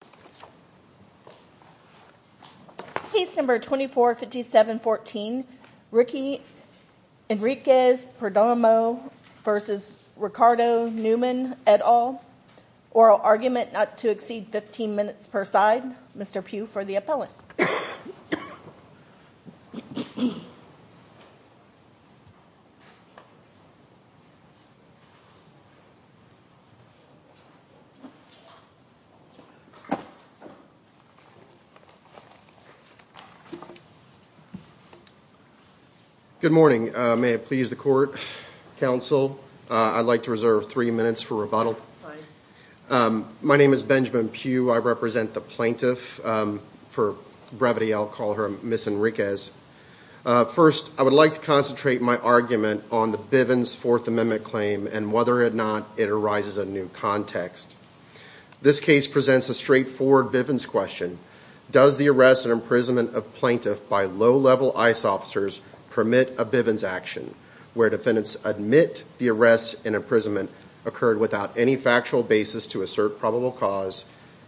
et al. Oral argument not to exceed 15 minutes per side. Mr. Pugh for the appellant. Good morning. May it please the court, counsel, I'd like to reserve three minutes for rebuttal. My name is Benjamin Pugh. I represent the plaintiff. For brevity I'll call her Ms. Enriquez. First I would like to concentrate my argument on the Bivens Fourth Amendment claim and whether or not it arises a new context. This case presents a straightforward Bivens question. Does the arrest and imprisonment of plaintiff by low-level ICE officers permit a Bivens action where defendants admit the arrest and imprisonment occurred without any factual basis to assert probable cause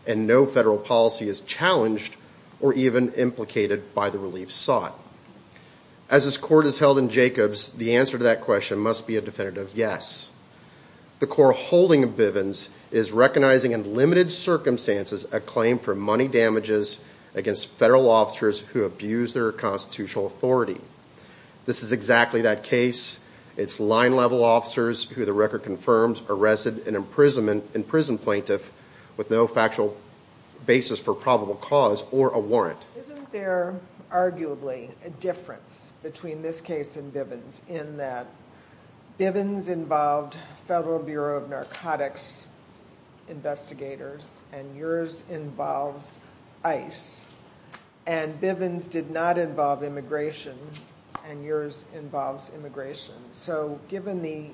and no federal policy is challenged or even implicated by the relief sought? As this court is held in Jacobs, the answer to that question must be a definitive yes. The core holding of Bivens is recognizing in limited circumstances a claim for money damages against federal officers who abuse their constitutional authority. This is exactly that case. It's line-level officers who the record confirms arrested an imprisoned plaintiff with no factual basis for probable cause or a warrant. Isn't there arguably a difference between this case and Bivens in that Bivens involved Federal Bureau of Narcotics investigators and yours involves ICE and Bivens did not involve immigration and yours involves immigration. So given the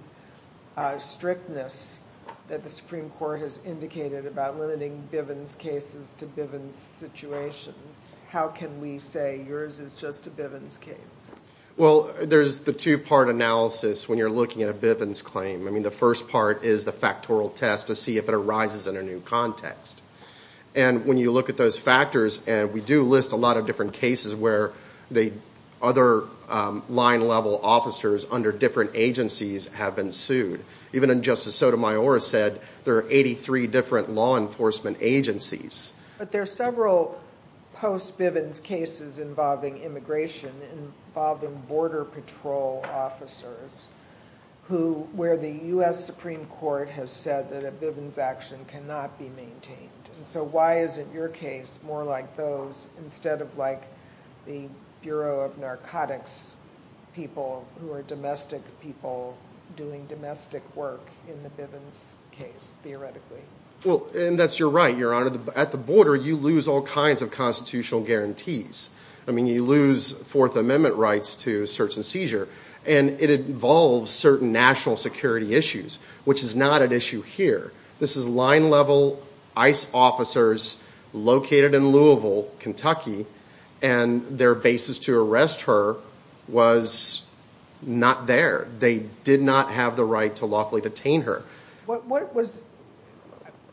strictness that the Supreme Court has indicated about limiting Bivens cases to Bivens situations, how can we say yours is just a Bivens case? Well there's the two-part analysis when you're looking at a Bivens claim. I mean the first part is the factorial test to see if it arises in a new context. And when you look at those factors and we do list a lot of different cases where the other line-level officers under different agencies have been sued. Even in Justice Sotomayor said there are 83 different law enforcement agencies. But there are several post-Bivens cases involving immigration involving border patrol officers who where the U.S. Supreme Court has said that a Bivens action cannot be maintained. So why isn't your case more like those instead of like the Bureau of Narcotics people who are domestic people doing domestic work in the Bivens case theoretically? And that's your right. At the border you lose all kinds of constitutional guarantees. I mean you lose Fourth Amendment rights to search and seizure and it involves certain national security issues which is not an issue here. This is line-level ICE officers located in Louisville, Kentucky and their basis to arrest her was not there. They did not have the right to lawfully detain her.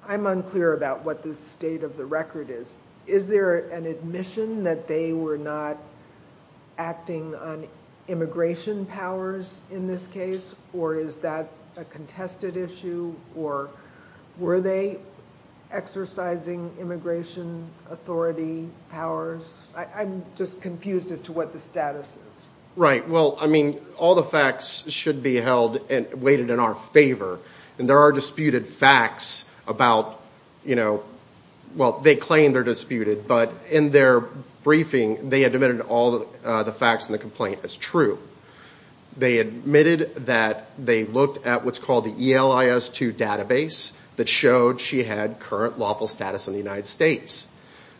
I'm unclear about what the state of the record is. Is there an admission that they were not acting on immigration powers in this case or is that a contested issue or were they exercising immigration authority powers? I'm just confused as to what the status is. Right, well I mean all the facts should be held and weighted in our favor and there are disputed facts about, you know, well they claim they're disputed but in their briefing they admitted all the facts in the complaint as true. They admitted that they looked at what's called the ELIS2 database that showed she had current lawful status in the United States.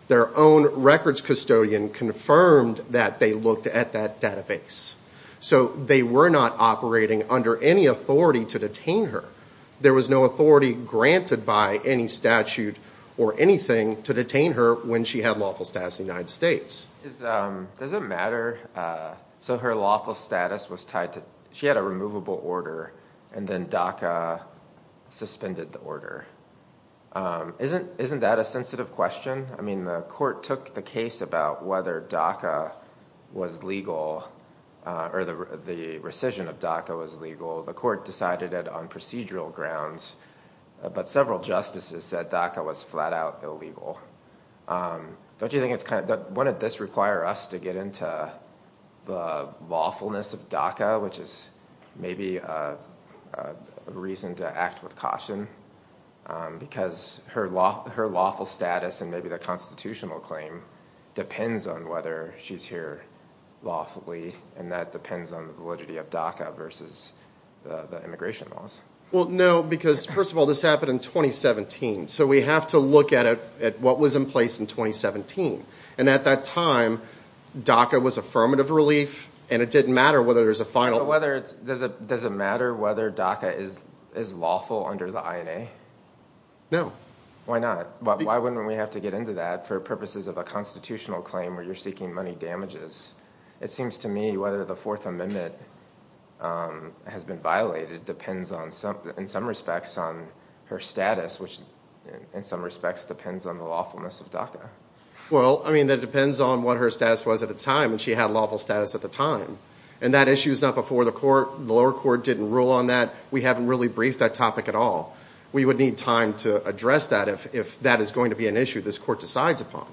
Their own records custodian confirmed that they looked at that database. So they were not operating under any authority to detain her. There was no authority granted by any statute or anything to detain her when she had lawful status in the United States. Does it matter, so her lawful status was tied to, she had a removable order and then DACA suspended the order. Isn't that a sensitive question? I mean the court took the case about whether DACA was legal or the rescission of DACA was legal. The court decided it on procedural grounds but several justices said DACA was flat out illegal. Don't you think it's kind of, wouldn't this require us to get into the lawfulness of DACA which is maybe a reason to act with caution because her lawful status and maybe the constitutional claim depends on whether she's here lawfully and that depends on the validity of DACA versus the immigration laws. Well no because first of all this happened in 2017 so we have to look at what was in place in 2017 and at that time DACA was affirmative relief and it didn't matter whether there was a final. Does it matter whether DACA is lawful under the INA? No. Why not? Why wouldn't we have to get into that for purposes of a constitutional claim where you're seeking money damages? It seems to me whether the Fourth Amendment has been violated depends on, in some respects, on her status which in some respects depends on the lawfulness of DACA. Well I mean that depends on what her status was at the time and she had lawful status at the time and that issue is not before the court. The lower court didn't rule on that. We haven't really briefed that topic at all. We would need time to address that if that is going to be an issue this court decides upon.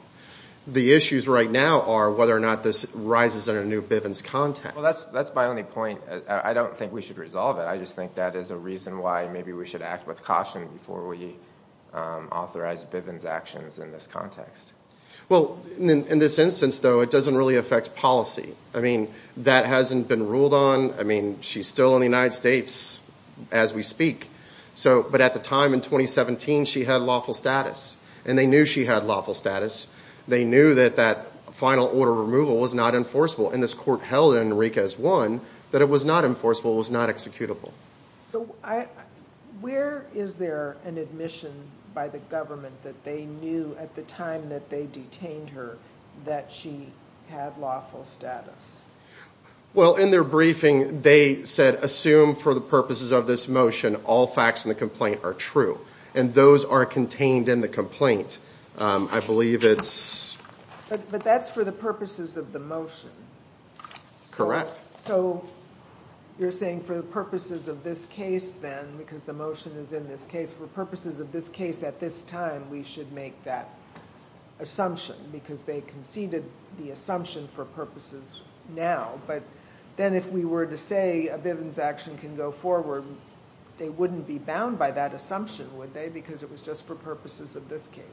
The issues right now are whether or not this rises in a new Bivens context. That's my only point. I don't think we should resolve it. I just think that is a reason why maybe we should act with caution before we authorize Bivens actions in this context. Well in this instance though it doesn't really affect policy. I mean that hasn't been ruled on. I mean she's still in the United States as we speak. But at the time in 2017 she had lawful status and they knew she had lawful status. They knew that that final order removal was not enforceable and this court held in Enriquez 1 that it was not enforceable, it was not executable. So where is there an admission by the government that they knew at the time that they detained her that she had lawful status? Well in their briefing they said assume for the purposes of this motion all facts in the complaint are true. And those are contained in the complaint. I believe it's... But that's for the purposes of the motion. Correct. So you're saying for the purposes of this case then because the motion is in this case for purposes of this case at this time we should make that assumption because they conceded the assumption for purposes now. But then if we were to say a Bivens action can go forward they wouldn't be bound by that assumption would they because it was just for purposes of this case.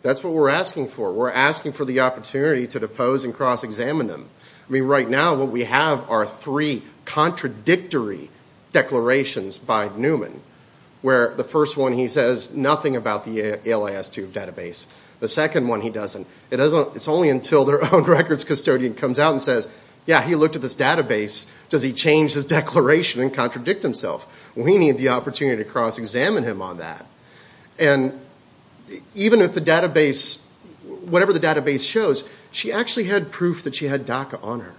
That's what we're asking for. We're asking for the opportunity to depose and cross-examine them. I mean right now what we have are three contradictory declarations by Newman where the first one he says nothing about the ALIS 2 database. The second one he doesn't. It's only until their own records custodian comes out and says yeah he looked at this database. Does he change his declaration and contradict himself? We need the opportunity to cross-examine him on that. And even if the database, whatever the database shows, she actually had proof that she had DACA on her.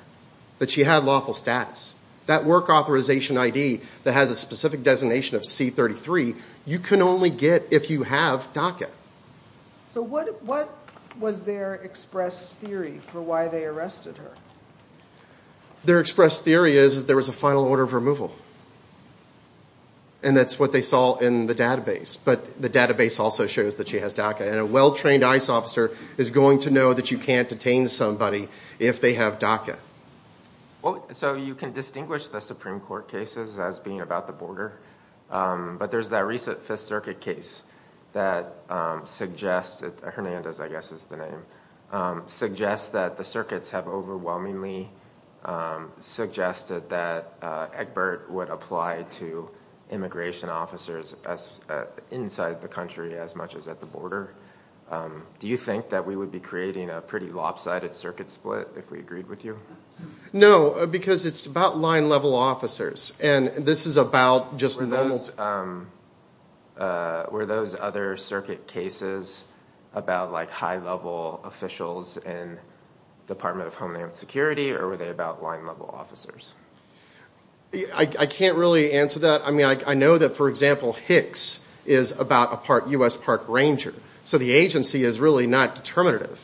That she had lawful status. That work authorization ID that has a specific designation of C-33 you can only get if you have DACA. So what was their express theory for why they arrested her? Their express theory is that there was a final order of removal. And that's what they saw in the database. But the database also shows that she has DACA. And a well-trained ICE officer is going to know that you can't detain somebody if they have DACA. So you can distinguish the Supreme Court cases as being about the border. But there's that recent 5th Circuit case that suggests, Hernandez I guess is the name, suggests that the circuits have overwhelmingly suggested that Egbert would apply to immigration officers inside the country as much as at the border. Do you think that we would be creating a pretty lopsided circuit split if we agreed with you? No, because it's about line level officers. And this is about just normal... Were those other circuit cases about like high level officials in Department of Homeland Security or were they about line level officers? I can't really answer that. I mean, I know that, for example, Hicks is about a U.S. Park ranger. So the agency is really not determinative.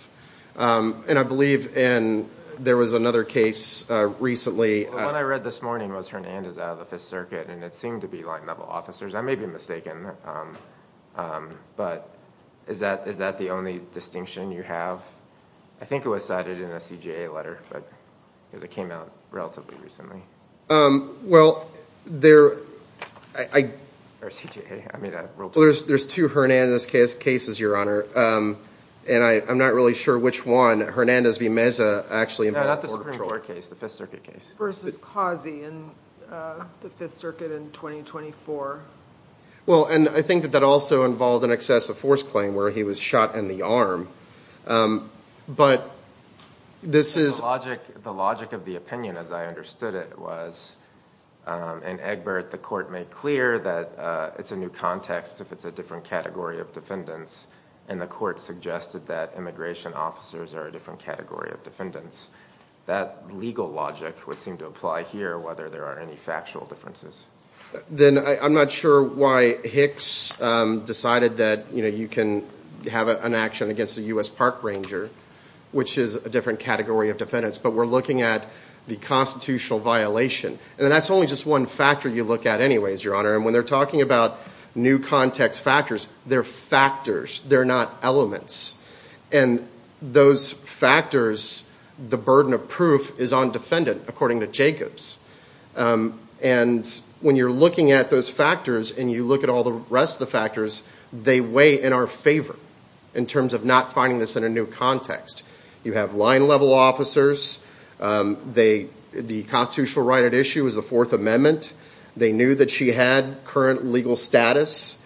And I believe there was another case recently... The one I read this morning was Hernandez out of the 5th Circuit and it seemed to be line level officers. I may be mistaken. But is that the only distinction you have? I think it was cited in a CJA letter, but it came out relatively recently. Well, there's two Hernandez cases, Your Honor, and I'm not really sure which one. Hernandez v. Meza actually... No, not the Supreme Court case, the 5th Circuit case. Versus Kazi in the 5th Circuit in 2024. Well, and I think that that also involved an excessive force claim where he was shot in the arm. But this is... The logic of the opinion, as I understood it, was in Egbert, the court made clear that it's a new context if it's a different category of defendants. And the court suggested that immigration officers are a different category of defendants. That legal logic would seem to apply here, whether there are any factual differences. Then I'm not sure why Hicks decided that you can have an action against a U.S. Park ranger, which is a different category of defendants, but we're looking at the constitutional violation. And that's only just one factor you look at anyways, Your Honor. And when they're talking about new context factors, they're factors, they're not elements. And those factors, the burden of proof is on defendant, according to Jacobs. And when you're looking at those factors and you look at all the rest of the factors, they weigh in our favor in terms of not finding this in a new context. You have line level officers. The constitutional right at issue is the Fourth Amendment. They knew that she had current legal status.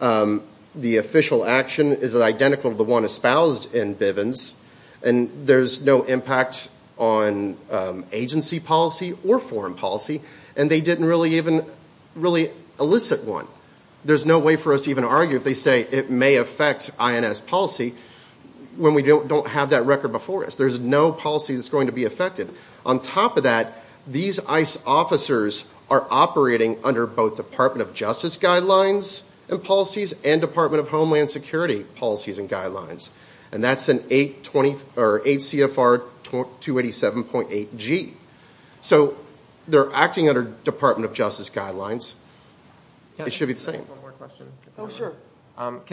The official action is identical to the one espoused in Bivens. And there's no impact on agency policy or foreign policy. And they didn't really even, really elicit one. There's no way for us to even argue if they say it may affect INS policy when we don't have that record before us. There's no policy that's going to be affected. On top of that, these ICE officers are operating under both Department of Justice guidelines and policies and Department of Homeland Security policies and guidelines. And that's an 8 CFR 287.8G. So they're acting under Department of Justice guidelines. It should be the same. Can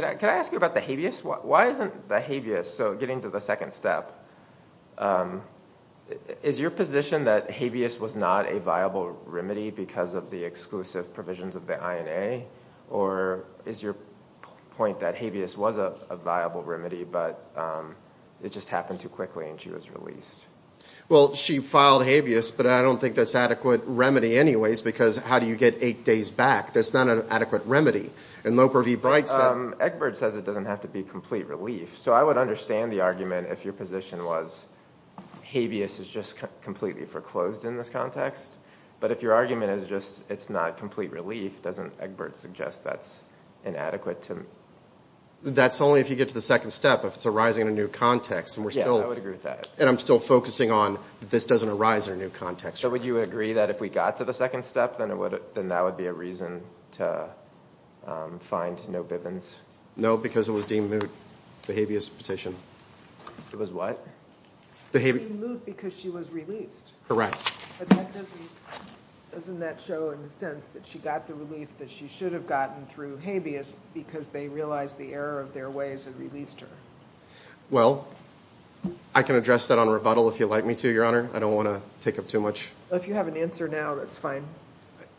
I ask you about the habeas? Why isn't the habeas, so getting to the second step, is your position that habeas was not a viable remedy because of the exclusive provisions of the INA? Or is your point that habeas was a viable remedy, but it just happened too quickly and she was released? Well, she filed habeas, but I don't think that's an adequate remedy anyways, because how do you get eight days back? That's not an adequate remedy. And Loper v. Bright said – Egbert says it doesn't have to be complete relief. So I would understand the argument if your position was habeas is just completely foreclosed in this context. But if your argument is just it's not complete relief, doesn't Egbert suggest that's inadequate to – That's only if you get to the second step, if it's arising in a new context. Yeah, I would agree with that. And I'm still focusing on this doesn't arise in a new context. So would you agree that if we got to the second step, then that would be a reason to find no Bivens? No, because it was deemed moot, the habeas petition. It was what? Deemed moot because she was released. Correct. But doesn't that show in a sense that she got the relief that she should have gotten through habeas because they realized the error of their ways and released her? Well, I can address that on rebuttal if you'd like me to, Your Honor. I don't want to take up too much. If you have an answer now, that's fine.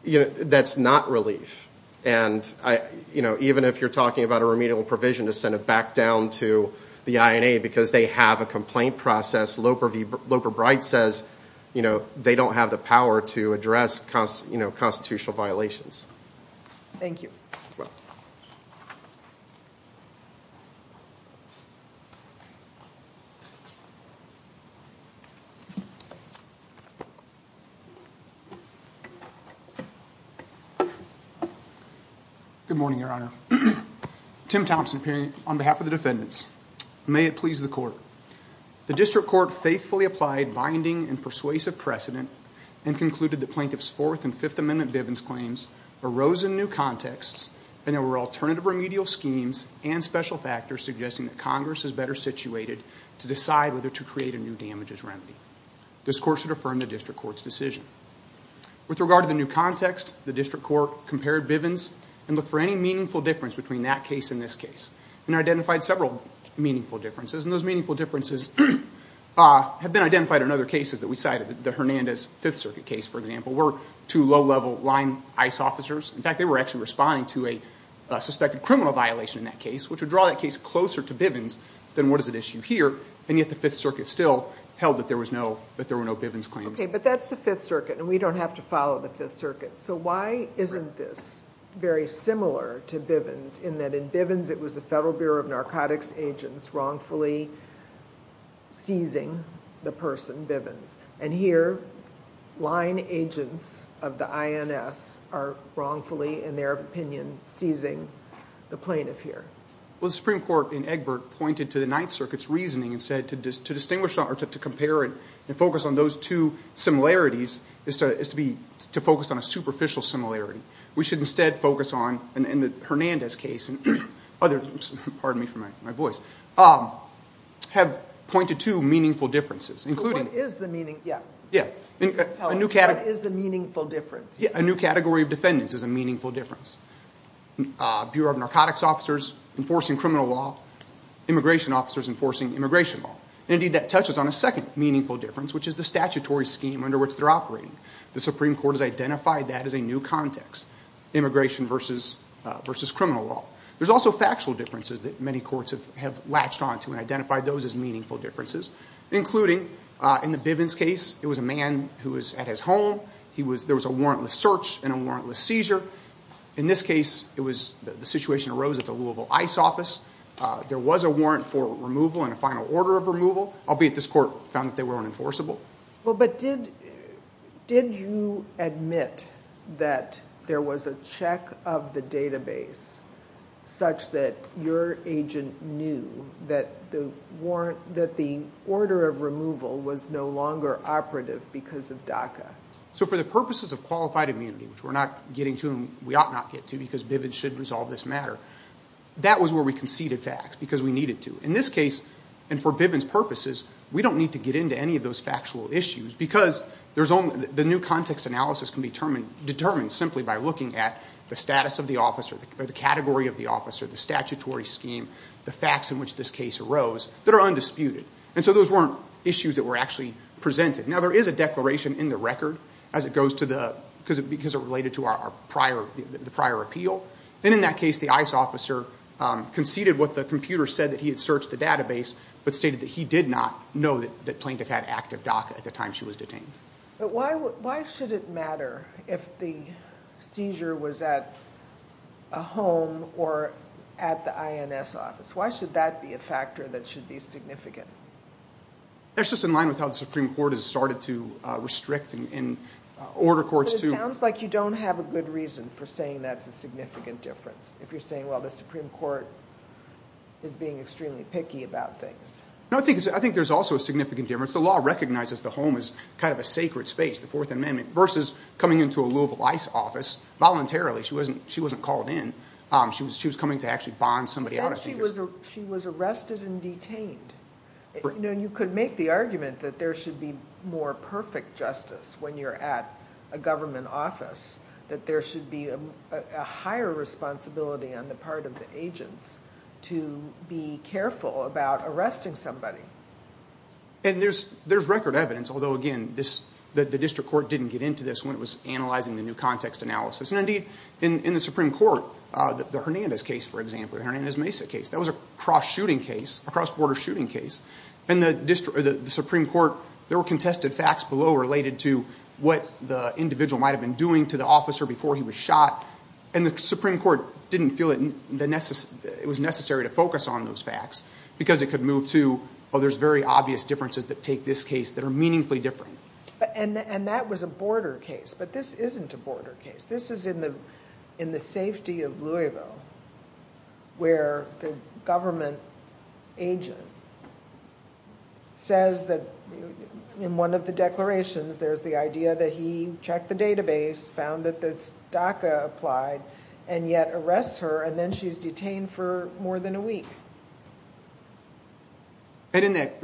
That's not relief. And even if you're talking about a remedial provision to send it back down to the INA because they have a complaint process, Loper Bright says they don't have the power to address constitutional violations. Thank you. Good morning, Your Honor. Tim Thompson here on behalf of the defendants. May it please the Court. The District Court faithfully applied binding and persuasive precedent and concluded that Plaintiffs' Fourth and Fifth Amendment Bivens claims arose in new contexts and there were remedial schemes and special factors suggesting that Congress is better situated to decide whether to create a new damages remedy. This Court should affirm the District Court's decision. With regard to the new context, the District Court compared Bivens and looked for any meaningful difference between that case and this case and identified several meaningful differences. And those meaningful differences have been identified in other cases that we cited. The Hernandez Fifth Circuit case, for example, were two low-level line ICE officers. In fact, they were actually responding to a suspected criminal violation in that case, which would draw that case closer to Bivens than what is at issue here. And yet the Fifth Circuit still held that there were no Bivens claims. But that's the Fifth Circuit and we don't have to follow the Fifth Circuit. So why isn't this very similar to Bivens in that in Bivens it was the Federal Bureau of Narcotics Agents wrongfully seizing the person, Bivens. And here, line agents of the INS are wrongfully, in their opinion, seizing the plaintiff here. Well, the Supreme Court in Egbert pointed to the Ninth Circuit's reasoning and said to distinguish or to compare and focus on those two similarities is to focus on a superficial similarity. We should instead focus on, in the Hernandez case and other, pardon me for my voice, have pointed to meaningful differences. So what is the meaningful difference? A new category of defendants is a meaningful difference. Bureau of Narcotics officers enforcing criminal law. Immigration officers enforcing immigration law. Indeed, that touches on a second meaningful difference, which is the statutory scheme under which they're operating. The Supreme Court has identified that as a new context. Immigration versus criminal law. There's also factual differences that many courts have latched onto and identified those as meaningful differences, including, in the Bivens case, it was a man who was at his home. He was, there was a warrantless search and a warrantless seizure. In this case, it was, the situation arose at the Louisville ICE office. There was a warrant for removal and a final order of removal, albeit this court found that they were unenforceable. Well, but did, did you admit that there was a check of the database such that your agent knew that the warrant, that the order of removal was no longer operative because of DACA? So for the purposes of qualified immunity, which we're not getting to and we ought not get to because Bivens should resolve this matter, that was where we conceded facts because we needed to. In this case, and for Bivens purposes, we don't need to get into any of those factual issues because there's only, the new context analysis can be determined, determined simply by looking at the status of the officer, the category of the officer, the statutory scheme, the facts in which this case arose that are undisputed. And so those weren't issues that were actually presented. Now there is a declaration in the record as it goes to the, because it related to our prior, the prior appeal. Then in that case, the ICE officer conceded what the computer said that he had searched the database but stated that he did not know that the plaintiff had active DACA at the time she was detained. But why, why should it matter if the seizure was at a home or at the INS office? Why should that be a factor that should be significant? That's just in line with how the Supreme Court has started to restrict and order courts to. It sounds like you don't have a good reason for saying that's a significant difference if you're saying, well, the Supreme Court is being extremely picky about things. No, I think, I think there's also a significant difference. The law recognizes the home as kind of a sacred space, the Fourth Amendment, versus coming into a Louisville ICE office voluntarily. She wasn't, she wasn't called in. She was, she was coming to actually bond somebody out. She was, she was arrested and detained. You know, you could make the argument that there should be more perfect justice when you're at a government office, that there should be a higher responsibility on the part of the agents to be careful about arresting somebody. And there's, there's record evidence, although, again, this, the District Court didn't get into this when it was analyzing the new context analysis. And, indeed, in the Supreme Court, the Hernandez case, for example, the Hernandez-Mesa case, that was a cross-shooting case, a cross-border shooting case. In the District, the Supreme Court, there were contested facts below related to what the individual might have been doing to the officer before he was shot. And the Supreme Court didn't feel that it was necessary to focus on those facts because it could move to, oh, there's very obvious differences that take this case that are meaningfully different. But, and, and that was a border case. But this isn't a border case. This is in the, in the safety of Louisville, where the government agent says that in one of the declarations, there's the idea that he checked the database, found that this DACA applied, and yet arrests her, and then she's detained for more than a week. And in that,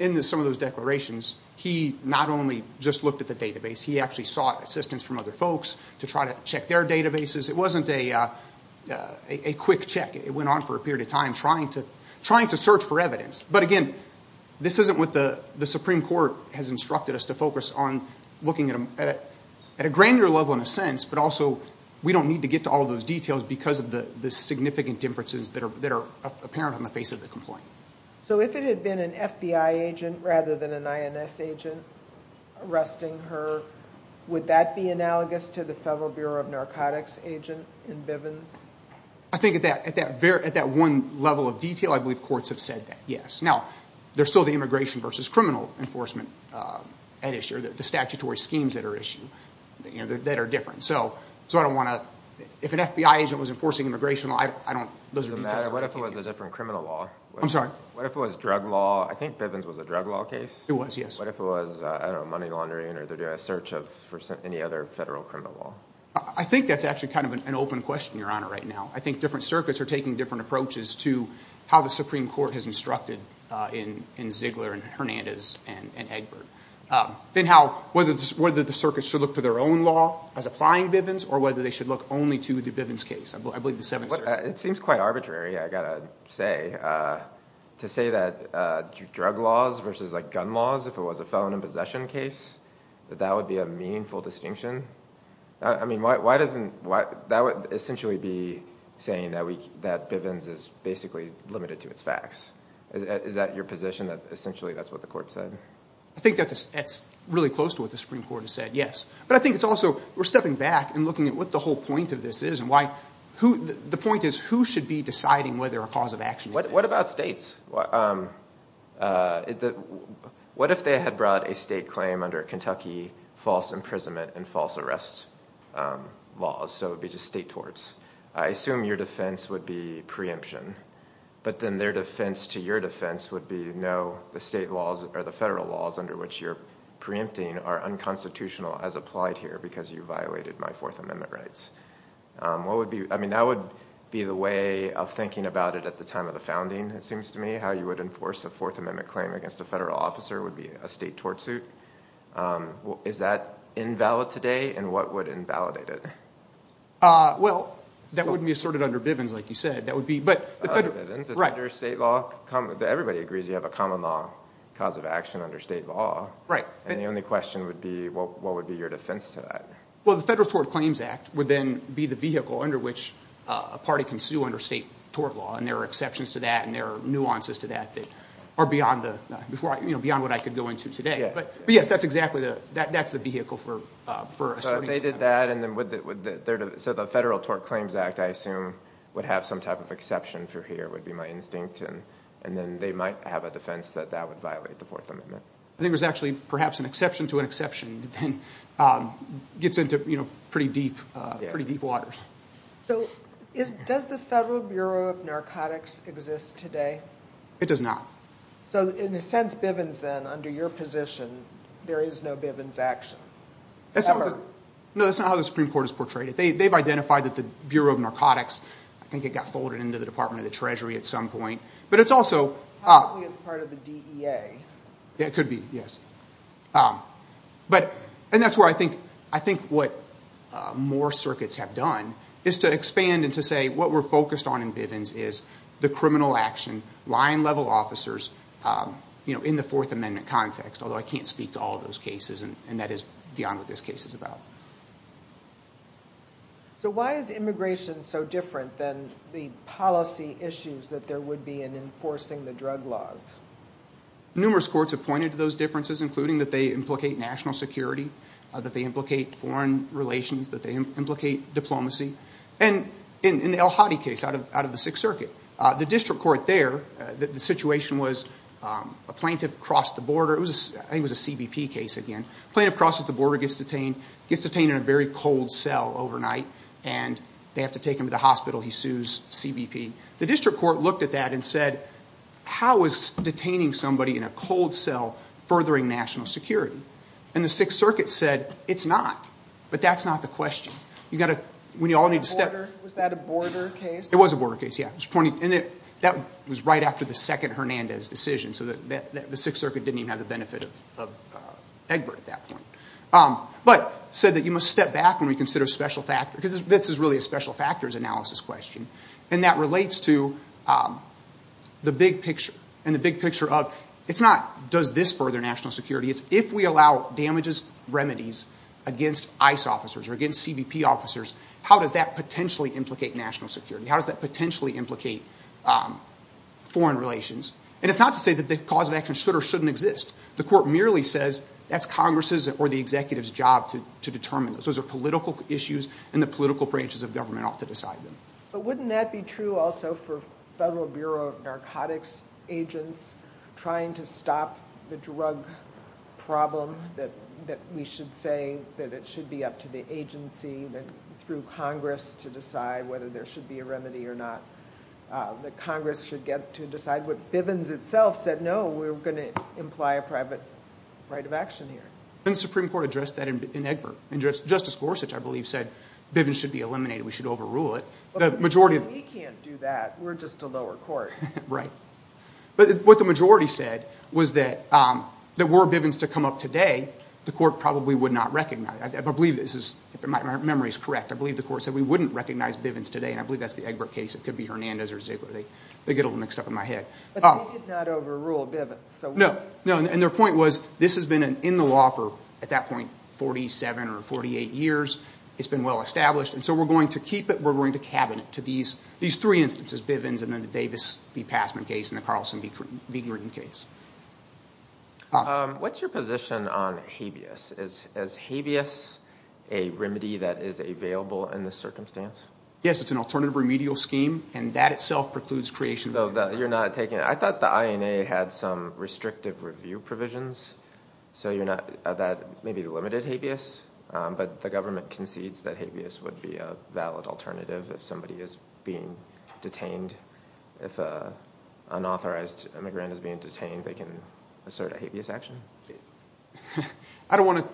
in some of those declarations, he not only just looked at the database, he actually sought assistance from other folks to try to check their databases. It wasn't a, a quick check. It went on for a period of time, trying to, trying to search for evidence. But, again, this isn't what the, the Supreme Court has instructed us to focus on looking at a, at a granular level, in a sense, but also, we don't need to get to all those details because of the, the significant differences that are, that are apparent on the face of the complaint. So if it had been an FBI agent rather than an INS agent arresting her, would that be analogous to the Federal Bureau of Narcotics agent in Bivens? I think at that, at that very, at that one level of detail, I believe courts have said that, yes. Now, there's still the immigration versus criminal enforcement at issue, the statutory schemes that are issued, you know, that are different. So, so I don't want to, if an FBI agent was enforcing immigration law, I don't, I don't, those are details I don't want to get into. What if it was a different criminal law? I'm sorry? What if it was drug law? I think Bivens was a drug law case. It was, yes. What if it was, I don't know, money laundering or the search of, for any other federal criminal law? I think that's actually kind of an open question, Your Honor, right now. I think different circuits are taking different approaches to how the Supreme Court has instructed in, in Ziegler and Hernandez and, and Egbert. Then how, whether, whether the circuit should look to their own law as applying Bivens or whether they should look only to the Bivens case. I believe the seventh circuit. It seems quite arbitrary, I gotta say. To say that drug laws versus, like, gun laws, if it was a felon in possession case, that that would be a meaningful distinction. I mean, why, why doesn't, why, that would essentially be saying that we, that Bivens is basically limited to its facts. Is, is that your position, that essentially that's what the court said? I think that's, that's really close to what the Supreme Court has said, yes. But I think it's also, we're stepping back and looking at what the whole point of this is and why, who, the point is, who should be deciding whether a cause of action exists? What, what about states? What, what if they had brought a state claim under Kentucky false imprisonment and false arrest laws? So it would be just state torts. I assume your defense would be preemption. But then their defense to your defense would be no, the state laws or the federal laws under which you're preempting are unconstitutional as applied here because you violated my Fourth Amendment rights. What would be, I mean, that would be the way of thinking about it at the time of the founding, it seems to me, how you would enforce a Fourth Amendment claim against a federal officer would be a state tort suit. Is that invalid today? And what would invalidate it? Well, that wouldn't be assorted under Bivens, like you said. That would be, but the federal, right. Under state law, everybody agrees you have a common law. Cause of action under state law. And the only question would be, what would be your defense to that? Well, the Federal Tort Claims Act would then be the vehicle under which a party can sue under state tort law. And there are exceptions to that and there are nuances to that that are beyond the, you know, beyond what I could go into today. But yes, that's exactly the, that's the vehicle for asserting. So if they did that and then would, so the Federal Tort Claims Act, I assume would have some type of exception for here would be my instinct. And then they might have a defense that that would violate the Fourth Amendment. I think there's actually perhaps an exception to an exception that then gets into, you know, pretty deep, pretty deep waters. So does the Federal Bureau of Narcotics exist today? It does not. So in a sense, Bivens then, under your position, there is no Bivens action. No, that's not how the Supreme Court has portrayed it. They've identified that the Bureau of Narcotics, I think it got folded into the Department of the Treasury at some point. But it's also... Probably it's part of the DEA. It could be, yes. But, and that's where I think, I think what more circuits have done is to expand and to say what we're focused on in Bivens is the criminal action, line-level officers, you know, in the Fourth Amendment context, although I can't speak to all those cases and that is beyond what this case is about. So why is immigration so different than the policy issues that there would be in enforcing the drug laws? Numerous courts have pointed to those differences, including that they implicate national security, that they implicate foreign relations, that they implicate diplomacy. And in the El Hadi case out of the Sixth Circuit, the district court there, the situation was a plaintiff crossed the border. It was, I think it was a CBP case again. Plaintiff crosses the border, gets detained, gets detained in a very cold cell overnight and they have to take him to the hospital. He sues CBP. The district court looked at that and said, how is detaining somebody in a cold cell furthering national security? And the Sixth Circuit said, it's not. But that's not the question. You've got to, when you all need to step- Was that a border case? It was a border case, yeah. And that was right after the second Hernandez decision. So the Sixth Circuit didn't even have the benefit of Egbert at that point. But said that you must step back when we consider a special factor, because this is really a special factors analysis question. And that relates to the big picture. And the big picture of, it's not does this further national security, it's if we allow damages remedies against ICE officers or against CBP officers, how does that potentially implicate national security? How does that potentially implicate foreign relations? And it's not to say that the cause of action should or shouldn't exist. The court merely says, that's Congress's or the executive's job to determine those. Those are political issues and the political branches of government ought to decide them. But wouldn't that be true also for Federal Bureau of Narcotics agents trying to stop the drug problem that we should say that it should be up to the agency, that through Congress to decide whether there should be a remedy or not. That Congress should get to decide. But Bivens itself said, no, we're going to imply a private right of action here. And the Supreme Court addressed that in Egbert. And Justice Gorsuch, I believe, said Bivens should be eliminated. We should overrule it. But we can't do that. We're just a lower court. Right. But what the majority said was that were Bivens to come up today, the court probably would not recognize. I believe this is, if my memory is correct, I believe the court said we wouldn't recognize Bivens today. And I believe that's the Egbert case. It could be Hernandez or Ziegler. They get a little mixed up in my head. But they did not overrule Bivens. No. And their point was this has been in the law for, at that point, 47 or 48 years. It's been well established. And so we're going to keep it. We're going to cabinet to these three instances, Bivens and then the Davis v. Passman case and the Carlson v. Gruden case. What's your position on habeas? Is habeas a remedy that is available in this circumstance? Yes, it's an alternative remedial scheme. And that itself precludes creation of the INA. So you're not taking it? I thought the INA had some restrictive review provisions. So that may be the limited habeas. But the government concedes that habeas would be a valid alternative if somebody is being detained. If an unauthorized immigrant is being detained, they can assert a habeas action? I don't want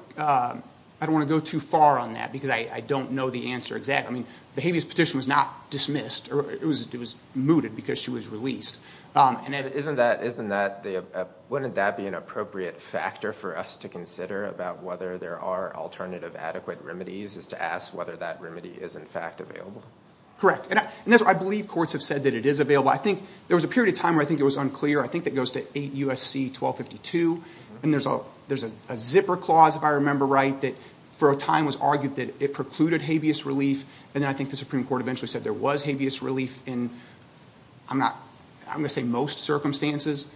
to go too far on that because I don't know the answer exactly. I mean, the habeas petition was not dismissed. It was mooted because she was released. And wouldn't that be an appropriate factor for us to consider about whether there are alternative adequate remedies is to ask whether that remedy is, in fact, available? Correct. And I believe courts have said that it is available. I think there was a period of time where I think it was unclear. I think that goes to 8 U.S.C. 1252. And there's a zipper clause, if I remember right, that for a time was argued that it precluded habeas relief. And then I think the Supreme Court eventually said there was habeas relief in, I'm not, I'm going to say most circumstances.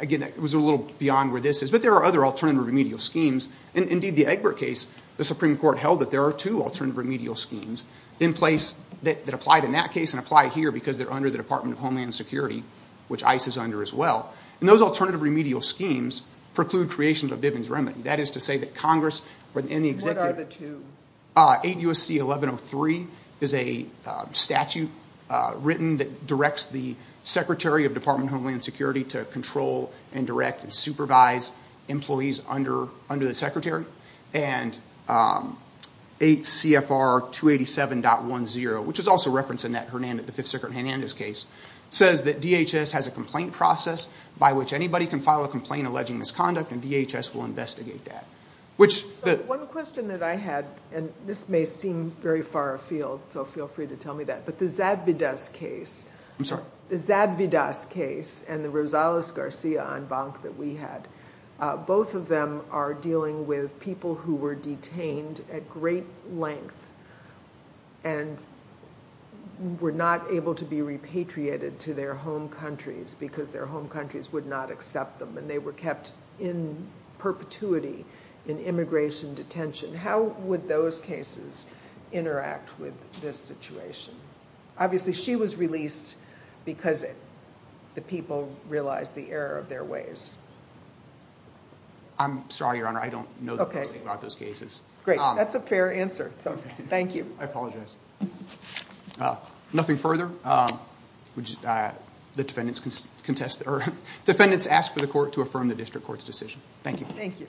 Again, it was a little beyond where this is. But there are other alternative remedial schemes. And indeed, the Egbert case, the Supreme Court held that there are two alternative remedial schemes in place that applied in that case and apply here because they're under the Department of Homeland Security, which ICE is under as well. And those alternative remedial schemes preclude creation of Diven's remedy. That is to say that Congress and the executive... What are the two? 8 U.S.C. 1103 is a statute written that directs the Secretary of Department of Homeland Security to control and direct and supervise employees under the Secretary. And 8 CFR 287.10, which is also referenced in the Fifth Circuit Hernandez case, says that DHS has a complaint process by which anybody can file a complaint alleging misconduct, and DHS will investigate that. So one question that I had, and this may seem very far afield, so feel free to tell me that. But the Zadvydas case... I'm sorry. The Zadvydas case and the Rosales-Garcia en banc that we had, both of them are dealing with people who were detained at great length and were not able to be repatriated to their home countries because their home countries would not accept them. And they were kept in perpetuity in immigration detention. How would those cases interact with this situation? Obviously, she was released because the people realized the error of their ways. I'm sorry, Your Honor. I don't know anything about those cases. Great. That's a fair answer. Thank you. I apologize. Nothing further. The defendants contest... The defendants ask for the court to affirm the district court's decision. Thank you.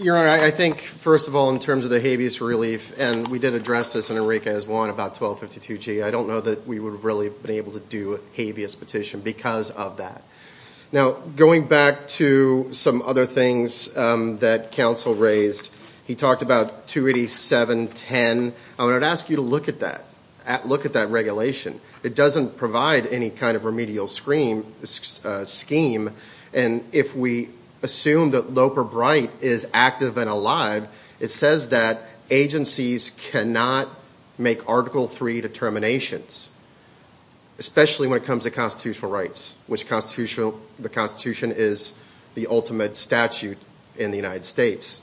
Your Honor, I think, first of all, in terms of the habeas relief, and we did address this in Eureka as well in about 1252G, I don't know that we would have really been able to do a habeas petition because of that. Now, going back to some other things that counsel raised, he talked about 28710. I would ask you to look at that. Look at that regulation. It doesn't provide any kind of remedial scheme. And if we assume that Loper-Bright is active and alive, it says that agencies cannot make Article III determinations, especially when it comes to constitutional rights, which the Constitution is the ultimate statute in the United States.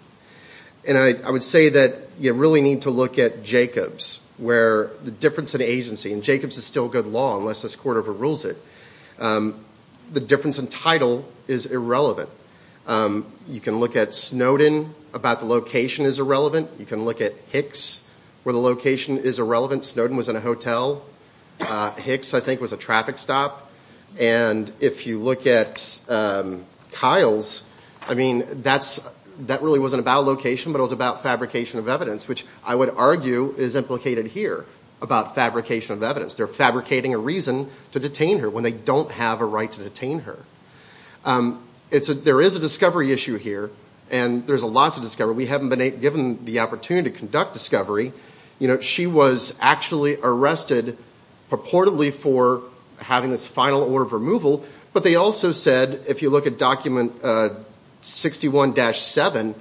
I would say that you really need to look at Jacobs, where the difference in agency, and Jacobs is still good law unless this court overrules it, the difference in title is irrelevant. You can look at Snowden about the location is irrelevant. You can look at Hicks, where the location is irrelevant. Snowden was in a hotel. Hicks, I think, was a traffic stop. And if you look at Kyle's, that really wasn't about location, but it was about fabrication of evidence, which I would argue is implicated here about fabrication of evidence. They're fabricating a reason to detain her when they don't have a right to detain her. There is a discovery issue here, and there's a lot to discover. We haven't been given the opportunity to conduct discovery. She was actually arrested purportedly for having this final order of removal, but they also said, if you look at document 61-7,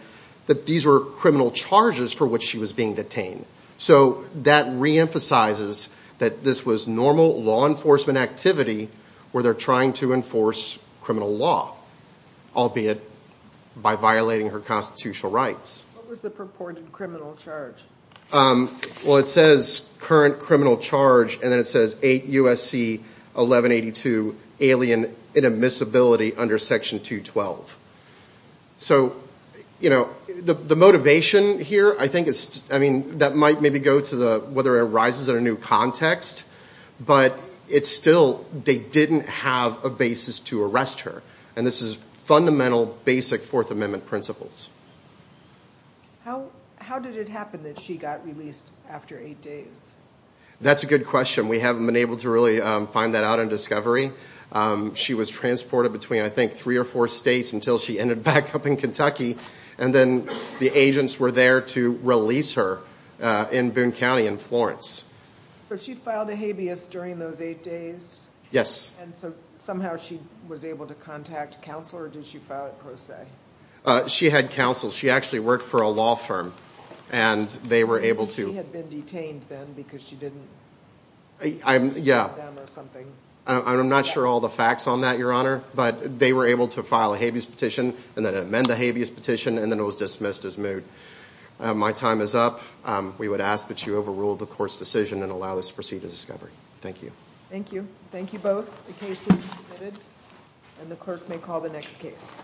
that these were criminal charges for which she was being detained. So that reemphasizes that this was normal law enforcement activity where they're trying to enforce criminal law, albeit by violating her constitutional rights. What was the purported criminal charge? Well, it says current criminal charge, and then it says 8 U.S.C. 1182 alien inadmissibility under section 212. So, you know, the motivation here, I think is, I mean, that might maybe go to whether it arises in a new context, but it's still they didn't have a basis to arrest her, and this is fundamental, basic Fourth Amendment principles. How did it happen that she got released after eight days? That's a good question. We haven't been able to really find that out in Discovery. She was transported between, I think, three or four states until she ended back up in Kentucky, and then the agents were there to release her in Boone County in Florence. So she filed a habeas during those eight days? Yes. And so somehow she was able to contact counsel, or did she file it per se? She had counsel. She actually worked for a law firm, and they were able to... She had been detained then because she didn't... I'm not sure all the facts on that, Your Honor, but they were able to file a habeas petition, and then amend the habeas petition, and then it was dismissed as moot. My time is up. We would ask that you overrule the Court's decision and allow us to proceed to Discovery. Thank you. Thank you. Thank you both. The case is submitted, and the clerk may call the next case.